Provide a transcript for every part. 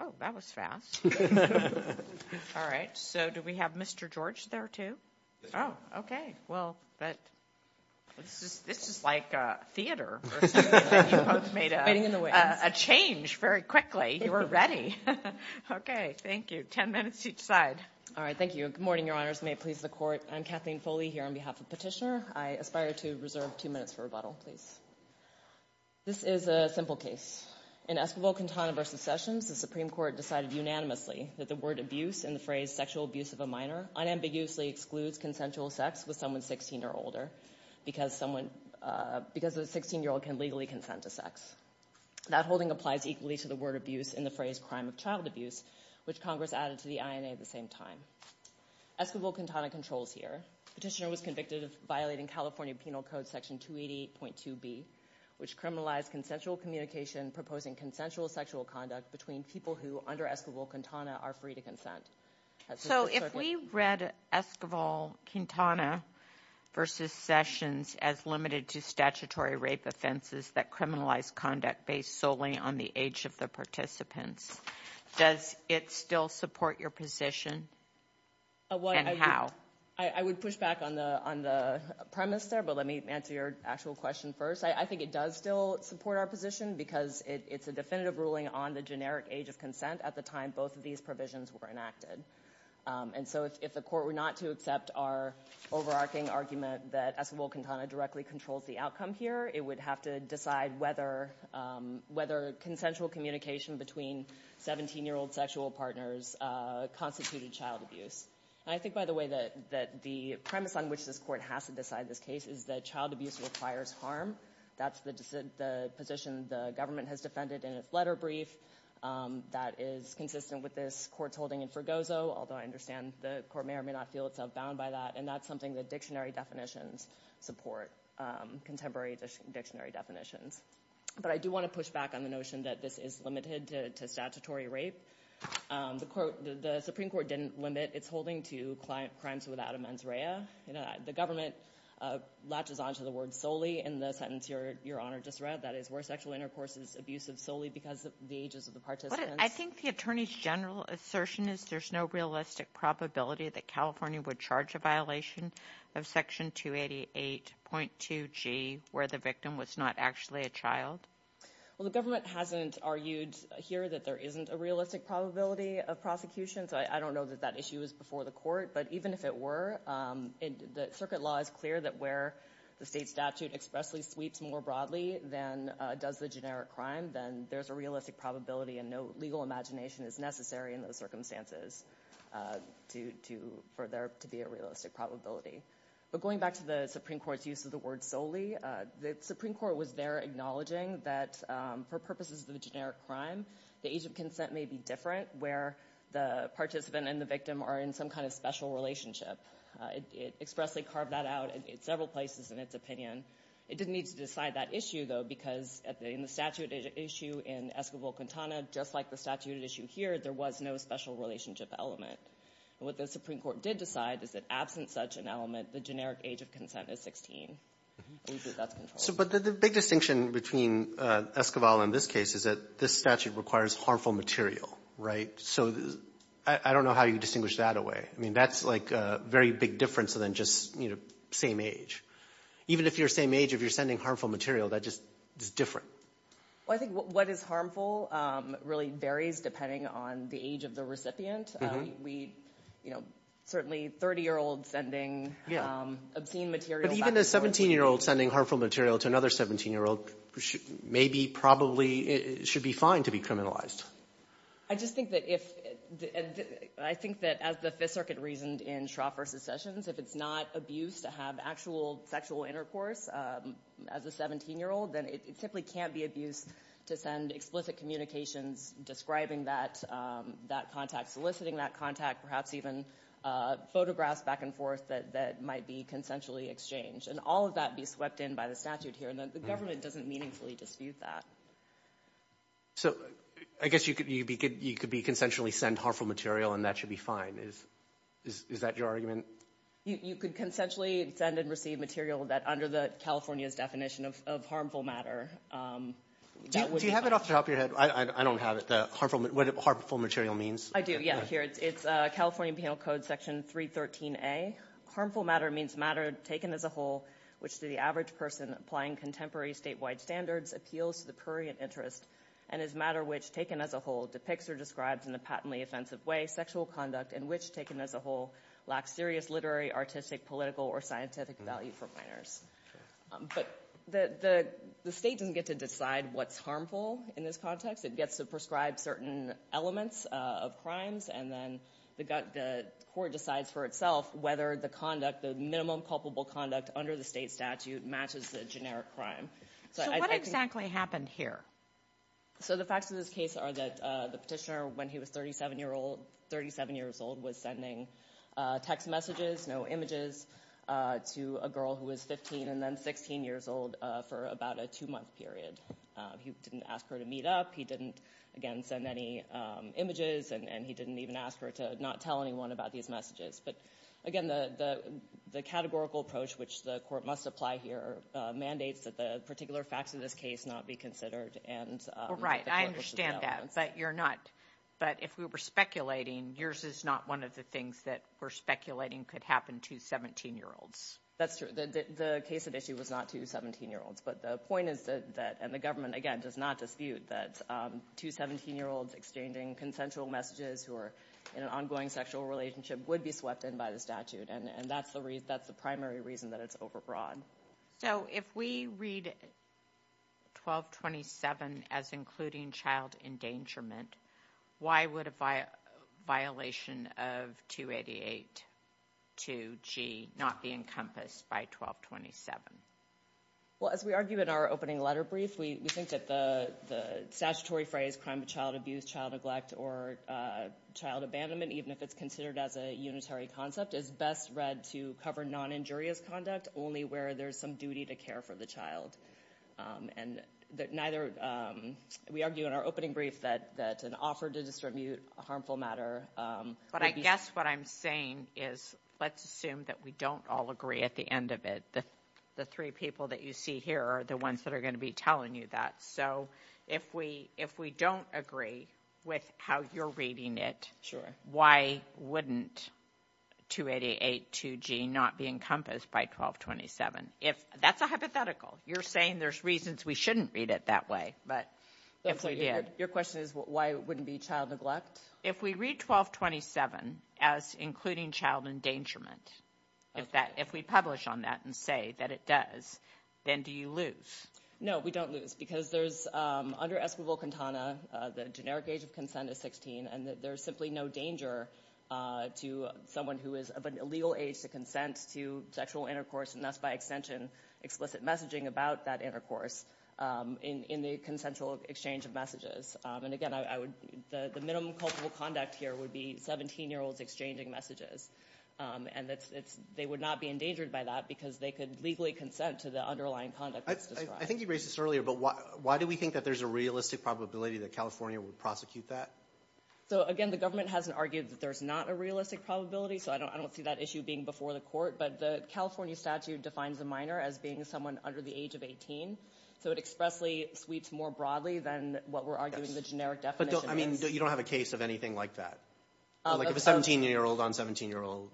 Oh, that was fast. All right. So, do we have Mr. George there, too? Oh, okay. Well, this is like theater. You both made a change very quickly. You were ready. Okay. Thank you. Ten minutes each side. All right. Thank you. Good morning, Your Honors. May it please the Court. I'm Kathleen Foley here on behalf of Petitioner. I aspire to reserve two minutes for rebuttal, please. This is a simple case. In Esquivel-Quintana v. Sessions, the Supreme Court decided unanimously that the word abuse in the phrase sexual abuse of a minor unambiguously excludes consensual sex with someone 16 or older because a 16-year-old can legally consent to sex. That holding applies equally to the word abuse in the phrase crime of child abuse, which Congress added to the INA at the same time. Esquivel-Quintana controls here. Petitioner was convicted of violating California Penal Code Section 288.2b, which criminalized consensual communication proposing consensual sexual conduct between people who, under Esquivel-Quintana, are free to consent. So if we read Esquivel-Quintana v. Sessions as limited to statutory rape offenses that criminalize conduct based solely on the age of the participants, does it still support your position? And how? I would push back on the premise there, but let me answer your actual question first. I think it does still support our position because it's a definitive ruling on the generic age of consent at the time both of these provisions were enacted. And so if the court were not to accept our overarching argument that Esquivel-Quintana directly controls the outcome here, it would have to decide whether consensual communication between 17-year-old sexual partners constituted child abuse. And I think, by the way, that the premise on which this court has to decide this case is that child abuse requires harm. That's the position the government has defended in its letter brief. That is consistent with this court's holding in Fregoso, although I understand the court may or may not feel itself bound by that. And that's something that dictionary definitions support, contemporary dictionary definitions. But I do want to push back on the notion that this is limited to statutory rape. The Supreme Court didn't limit its holding to crimes without a mens rea. The government latches onto the word solely in the sentence Your Honor just read, that is, were sexual intercourses abusive solely because of the ages of the participants? I think the attorney's general assertion is there's no realistic probability that California would charge a violation of Section 288.2G where the victim was not actually a child. Well, the government hasn't argued here that there isn't a realistic probability of prosecution, so I don't know that that issue is before the court. But even if it were, the circuit law is clear that where the state statute expressly sweeps more broadly than does the generic crime, then there's a realistic probability and no legal imagination is necessary in those circumstances for there to be a realistic probability. But going back to the Supreme Court's use of the word solely, the Supreme Court was there acknowledging that for purposes of the generic crime, the age of consent may be different where the participant and the victim are in some kind of special relationship. It expressly carved that out in several places in its opinion. It didn't need to decide that issue though because in the statute issue in Esquivel-Quintana, just like the statute issue here, there was no special relationship element. And what the Supreme Court did decide is that absent such an element, the generic age of consent is 16. But the big distinction between Esquivel and this case is that this statute requires harmful material, right? So I don't know how you distinguish that away. I mean, that's like a very big difference than just, you know, same age. Even if you're same age, if you're sending harmful material, that just is different. Well, I think what is harmful really varies depending on the age of the recipient. We, you know, certainly 30-year-olds sending obscene material back and forth. But even a 17-year-old sending harmful material to another 17-year-old maybe, probably, should be fine to be criminalized. I just think that if, I think that as the Fifth Circuit reasoned in Shroff v. Sessions, if it's not abuse to have actual sexual intercourse as a 17-year-old, then it simply can't be abuse to send explicit communications describing that contact, soliciting that contact, perhaps even photographs back and forth that might be consensually exchanged. And all of that be swept in by the statute here. And the government doesn't meaningfully dispute that. So I guess you could be consensually sent harmful material, and that should be fine. Is that your argument? You could consensually send and receive material that under California's definition of harmful matter. Do you have it off the top of your head? I don't have it, what harmful material means. I do, yeah, here. It's California Penal Code Section 313A. Harmful matter means matter taken as a whole, which to the average person applying contemporary statewide standards appeals to the prurient interest, and is matter which, taken as a whole, depicts or describes in a patently offensive way sexual conduct, and which, taken as a whole, lacks serious literary, artistic, political, or scientific value for minors. But the state doesn't get to decide what's harmful in this context. It gets to prescribe certain elements of crimes, and then the court decides for itself whether the conduct, the minimum culpable conduct under the state statute matches the generic crime. So what exactly happened here? So the facts of this case are that the petitioner, when he was 37 years old, was sending text messages, no images, to a girl who was 15 and then 16 years old for about a two-month period. He didn't ask her to meet up. He didn't, again, send any images, and he didn't even ask her to not tell anyone about these messages. But again, the categorical approach, which the court must apply here, mandates that the particular facts of this case not be considered, and the categorical developments. Well, right. I understand that, but you're not. But if we were speculating, yours is not one of the things that we're speculating could happen to 17-year-olds. That's true. The case at issue was not to 17-year-olds. But the point is that, and the government, again, does not dispute that two 17-year-olds exchanging consensual messages who are in an ongoing sexual relationship would be swept in by the statute, and that's the primary reason that it's overbroad. So if we read 1227 as including child endangerment, why would a violation of 288 2G not be encompassed by 1227? Well, as we argue in our opening letter brief, we think that the statutory phrase, crime of child abuse, child neglect, or child abandonment, even if it's considered as a unitary concept, is best read to cover non-injurious conduct, only where there's some duty to care for the child. And neither, we argue in our opening brief that an offer to distribute a harmful matter would be... But I guess what I'm saying is, let's assume that we don't all agree at the end of it. The three people that you see here are the ones that are going to be telling you that. So if we don't agree with how you're reading it, why wouldn't 288 2G not be encompassed by 1227? That's a hypothetical. You're saying there's reasons we shouldn't read it that way, but if we did... Your question is, why wouldn't it be child neglect? If we read 1227 as including child endangerment, if we publish on that and say that it does, then do you lose? No, we don't lose because there's, under Escrivil-Quintana, the generic age of consent is 16, and there's simply no danger to someone who is of an illegal age to consent to sexual intercourse, and thus, by extension, explicit messaging about that intercourse in the consensual exchange of messages. And again, the minimum culpable conduct here would be 17-year-olds exchanging messages, and they would not be endangered by that because they could legally consent to the underlying conduct that's described. I think you raised this earlier, but why do we think that there's a realistic probability that California would prosecute that? So again, the government hasn't argued that there's not a realistic probability, so I don't see that issue being before the court, but the California statute defines a minor as being someone under the age of 18, so it expressly sweeps more broadly than what we're arguing the generic definition is. But you don't have a case of anything like that, like of a 17-year-old on 17-year-old?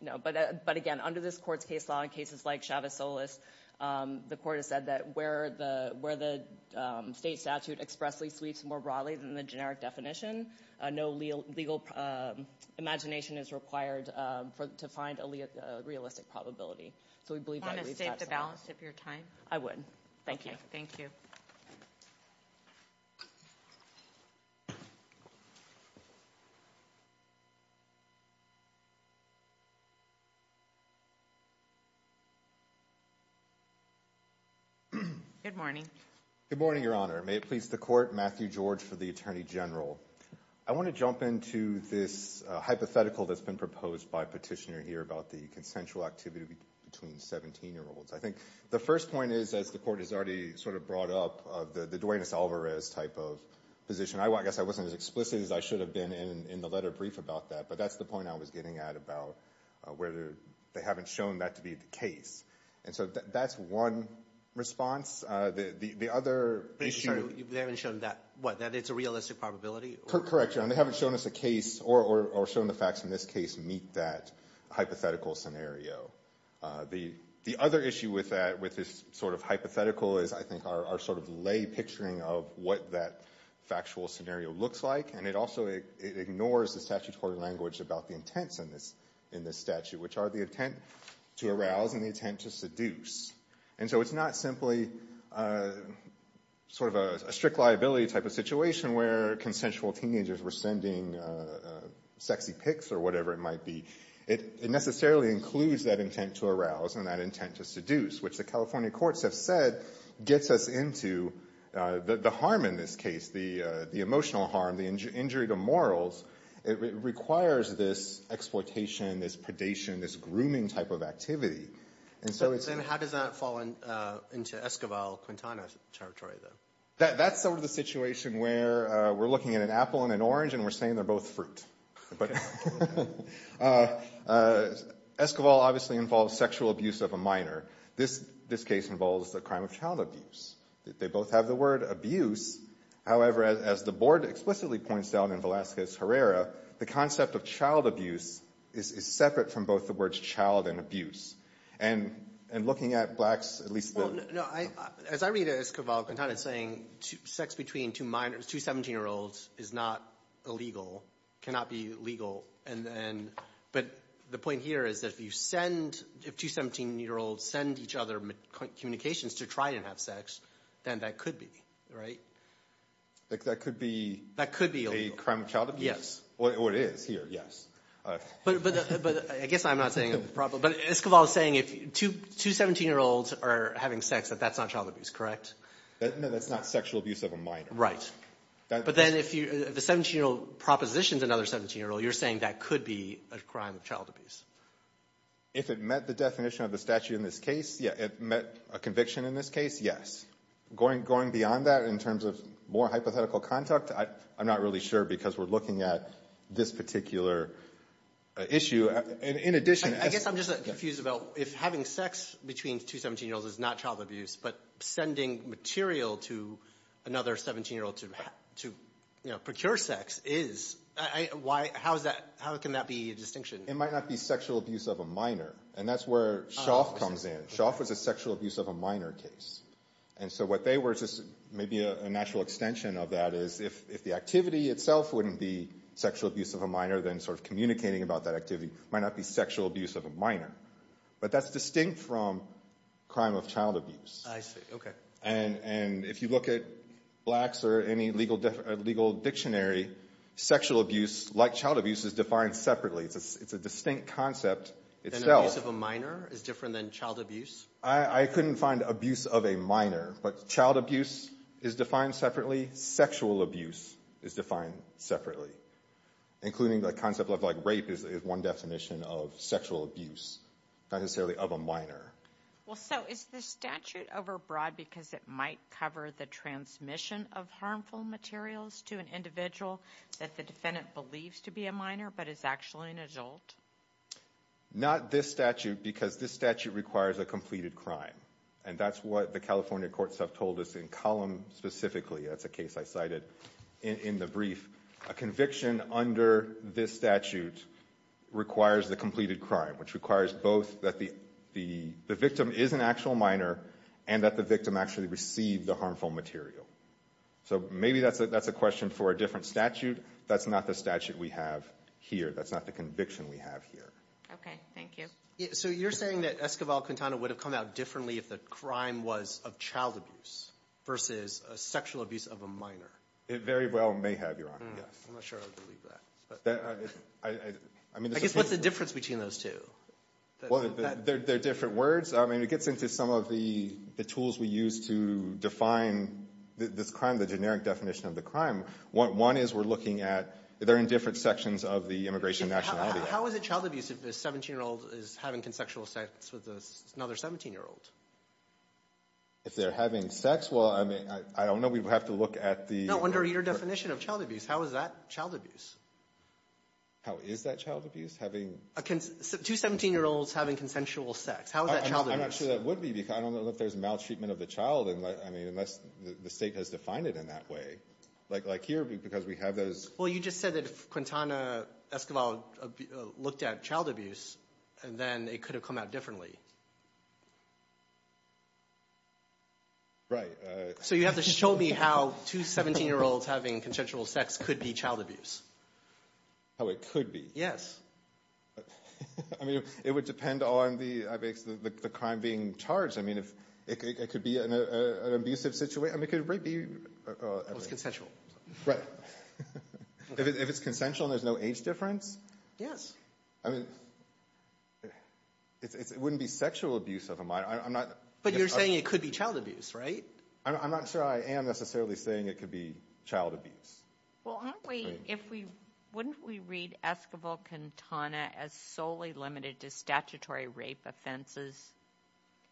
No. But again, under this court's case law, in cases like Chavez-Solis, the court has said that where the state statute expressly sweeps more broadly than the generic definition, no legal imagination is required to find a realistic probability. So we believe that— Do you want to state the balance of your time? I would. Thank you. Thank you. Good morning. Good morning, Your Honor. May it please the court. Matthew George for the Attorney General. I want to jump into this hypothetical that's been proposed by a petitioner here about the consensual activity between 17-year-olds. I think the first point is, as the court has already sort of brought up, of the Duanis Alvarez type of position. I guess I wasn't as explicit as I should have been in the letter brief about that, but that's the point I was getting at about the fact that there's a possibility that 17-year-olds there hasn't shown that to be the case. And so that's one response. The other issue— They haven't shown that—that it's a realistic probability? Correct, Your Honor. They haven't shown us a case or shown the facts in this case to meet that hypothetical scenario. The other issue with this sort of hypothetical is, I think, our sort of lay picturing of what that factual scenario looks like. And it also ignores the statutory language about the intents in this statute, which are the intent to arouse and the intent to seduce. And so it's not simply sort of a strict liability type of situation where consensual teenagers were sending sexy pics or whatever it might be. It necessarily includes that intent to arouse and that intent to seduce, which the California it requires this exploitation, this predation, this grooming type of activity. And so it's— But then how does that fall into Esquivel-Quintana territory, then? That's sort of the situation where we're looking at an apple and an orange and we're saying they're both fruit. Esquivel obviously involves sexual abuse of a minor. This case involves the crime of child abuse. They both have the word abuse. However, as the board explicitly points out in Velazquez-Herrera, the concept of child abuse is separate from both the words child and abuse. And looking at blacks, at least the— No, as I read Esquivel-Quintana saying sex between two minor—two 17-year-olds is not illegal, cannot be legal, and then—but the point here is that if you send—if two 17-year-olds send each other communications to try and have sex, then that could be, right? That could be— That could be illegal. A crime of child abuse? Yes. Well, it is here, yes. But I guess I'm not saying—but Esquivel is saying if two 17-year-olds are having sex that that's not child abuse, correct? No, that's not sexual abuse of a minor. Right. But then if the 17-year-old propositions another 17-year-old, you're saying that could be a crime of child abuse. If it met the definition of the statute in this case, yeah, it met a conviction in this case, yes. Going—going beyond that in terms of more hypothetical conduct, I'm not really sure because we're looking at this particular issue. In addition— I guess I'm just confused about if having sex between two 17-year-olds is not child abuse, but sending material to another 17-year-old to, you know, procure sex is, I—why—how is that—how can that be a distinction? It might not be sexual abuse of a minor, and that's where Schoff comes in. Schoff was a sexual abuse of a minor case. And so what they were just maybe a natural extension of that is if—if the activity itself wouldn't be sexual abuse of a minor, then sort of communicating about that activity might not be sexual abuse of a minor. But that's distinct from crime of child abuse. I see. Okay. And—and if you look at blacks or any legal—legal dictionary, sexual abuse, like child abuse, is defined separately. It's a—it's a distinct concept itself. Then abuse of a minor is different than child abuse? I—I couldn't find abuse of a minor, but child abuse is defined separately. Sexual abuse is defined separately, including the concept of, like, rape is one definition of sexual abuse, not necessarily of a minor. Well, so is the statute overbroad because it might cover the transmission of harmful Not this statute, because this statute requires a completed crime. And that's what the California courts have told us in column specifically. That's a case I cited in—in the brief. A conviction under this statute requires the completed crime, which requires both that the—the—the victim is an actual minor and that the victim actually received the harmful material. So maybe that's a—that's a question for a different statute. That's not the statute we have here. That's not the conviction we have here. Thank you. So you're saying that Escobar-Quintana would have come out differently if the crime was of child abuse versus sexual abuse of a minor? It very well may have, Your Honor. Yes. I'm not sure I would believe that. But— I—I—I mean, this is— I guess what's the difference between those two? Well, they're—they're different words. I mean, it gets into some of the—the tools we use to define this crime, the generic definition of the crime. One is we're looking at—they're in different sections of the immigration nationality. How is it child abuse if a 17-year-old is having consensual sex with another 17-year-old? If they're having sex, well, I mean, I don't know. We would have to look at the— No, I'm wondering your definition of child abuse. How is that child abuse? How is that child abuse? Having— Two 17-year-olds having consensual sex. How is that child abuse? I'm not sure that would be, because I don't know if there's maltreatment of the child unless—I mean, unless the State has defined it in that way. Like here, because we have those— Well, you just said that if Quintana Escoval looked at child abuse, then it could have come out differently. Right. So you have to show me how two 17-year-olds having consensual sex could be child abuse. How it could be? Yes. I mean, it would depend on the—the crime being charged. I mean, it could be an abusive situation. I mean, it could be— Well, it's consensual. Right. If it's consensual and there's no age difference? Yes. I mean, it wouldn't be sexual abuse of a minor. I'm not— But you're saying it could be child abuse, right? I'm not sure I am necessarily saying it could be child abuse. Well, aren't we—if we—wouldn't we read Escoval-Quintana as solely limited to statutory rape offenses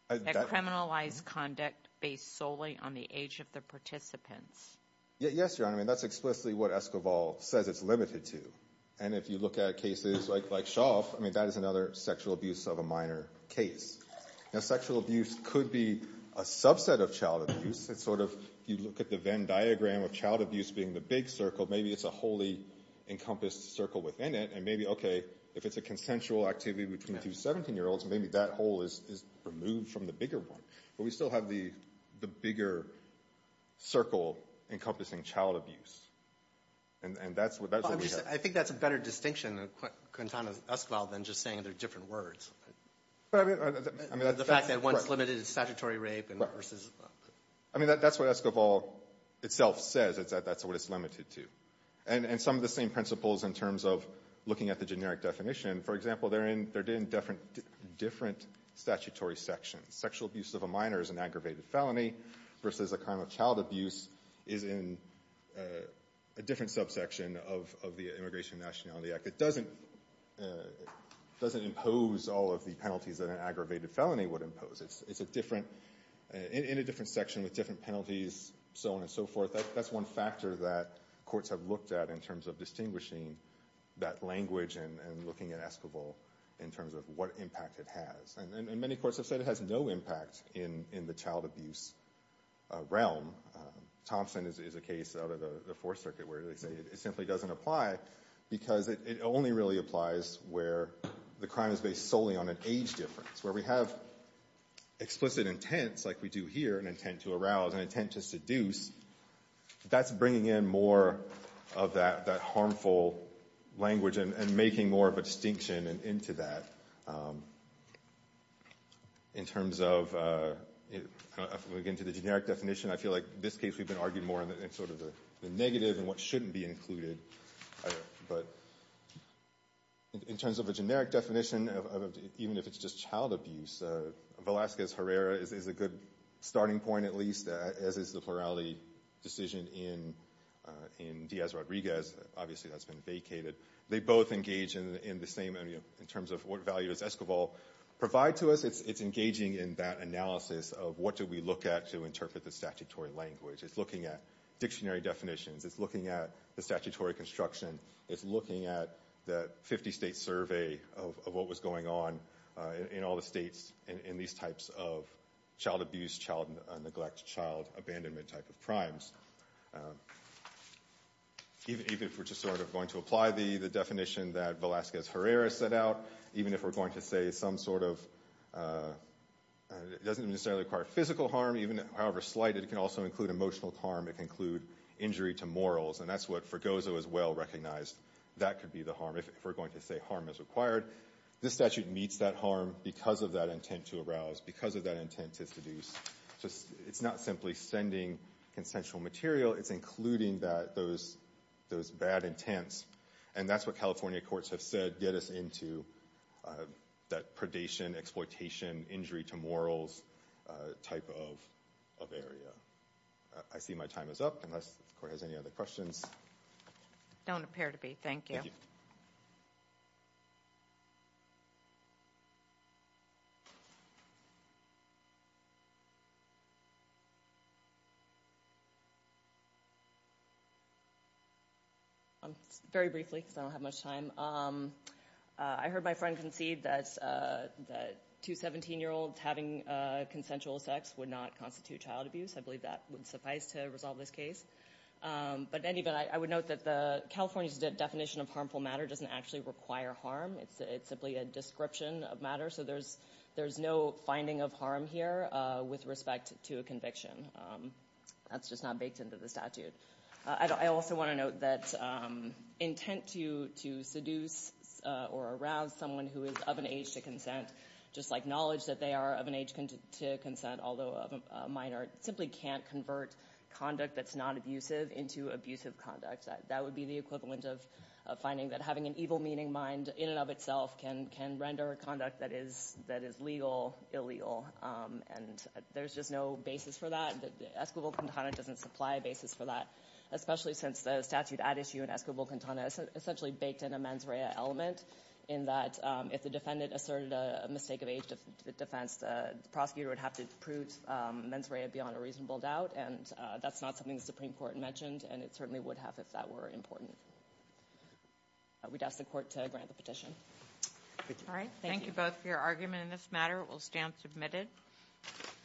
that criminalize conduct based solely on the age of the participants? Yes, Your Honor. I mean, that's explicitly what Escoval says it's limited to. And if you look at cases like Shaw, I mean, that is another sexual abuse of a minor case. Now, sexual abuse could be a subset of child abuse. It's sort of—if you look at the Venn diagram of child abuse being the big circle, maybe it's a wholly encompassed circle within it. And maybe, okay, if it's a consensual activity between two 17-year-olds, maybe that whole is removed from the bigger one. But we still have the bigger circle encompassing child abuse. And that's what we have. I think that's a better distinction, Quintana Escoval, than just saying they're different words. I mean, that's— The fact that one's limited to statutory rape and versus— I mean, that's what Escoval itself says. That's what it's limited to. And some of the same principles in terms of looking at the generic definition. For example, they're in different statutory sections. Sexual abuse of a minor is an aggravated felony versus a crime of child abuse is in a different subsection of the Immigration and Nationality Act. It doesn't impose all of the penalties that an aggravated felony would impose. It's a different—in a different section with different penalties, so on and so forth. That's one factor that courts have looked at in terms of distinguishing that language and looking at Escoval in terms of what impact it has. And many courts have said it has no impact in the child abuse realm. Thompson is a case out of the Fourth Circuit where they say it simply doesn't apply because it only really applies where the crime is based solely on an age difference. Where we have explicit intents, like we do here, an intent to arouse, an intent to seduce, that's bringing in more of that harmful language and making more of a distinction into that. In terms of, again, to the generic definition, I feel like in this case we've been arguing more in sort of the negative and what shouldn't be included. But in terms of a generic definition, even if it's just child abuse, Velasquez-Herrera is a good starting point, at least, as is the plurality decision in Diaz-Rodriguez. Obviously that's been vacated. They both engage in the same—in terms of what value does Escoval provide to us. It's engaging in that analysis of what do we look at to interpret the statutory language. It's looking at dictionary definitions. It's looking at the statutory construction. It's looking at the 50-state survey of what was going on in all the states in these types of child abuse, child neglect, child abandonment type of crimes. Even if we're just sort of going to apply the definition that Velasquez-Herrera set out, even if we're going to say some sort of—it doesn't necessarily require physical harm, however slight it can also include emotional harm. It can include injury to morals, and that's what Fregoso is well-recognized. That could be the harm if we're going to say harm is required. This statute meets that harm because of that intent to arouse, because of that intent to seduce. It's not simply sending consensual material. It's including those bad intents, and that's what California courts have said get us into that predation, exploitation, injury to morals type of area. I see my time is up unless the court has any other questions. Don't appear to be. Thank you. Very briefly because I don't have much time. I heard my friend concede that two 17-year-olds having consensual sex would not constitute child abuse. I believe that would suffice to resolve this case. I would note that California's definition of harmful matter doesn't actually require harm. It's simply a description of matter, so there's no finding of harm here with respect to a conviction. That's just not baked into the statute. I also want to note that intent to seduce or arouse someone who is of an age to consent, just like knowledge that they are of an age to consent, although of a minor, simply can't convert conduct that's not abusive into abusive conduct. That would be the equivalent of finding that having an evil-meaning mind in and of itself can render a conduct that is legal illegal. There's just no basis for that. Escobar-Quintana doesn't supply a basis for that, especially since the statute at issue in Escobar-Quintana essentially baked in a mens rea element in that if the defendant asserted a mistake of age to defense, the prosecutor would have to prove mens rea beyond a reasonable doubt. That's not something the Supreme Court mentioned, and it certainly would have if that were important. We'd ask the Court to grant the petition. Thank you both for your argument in this matter. It will stand submitted.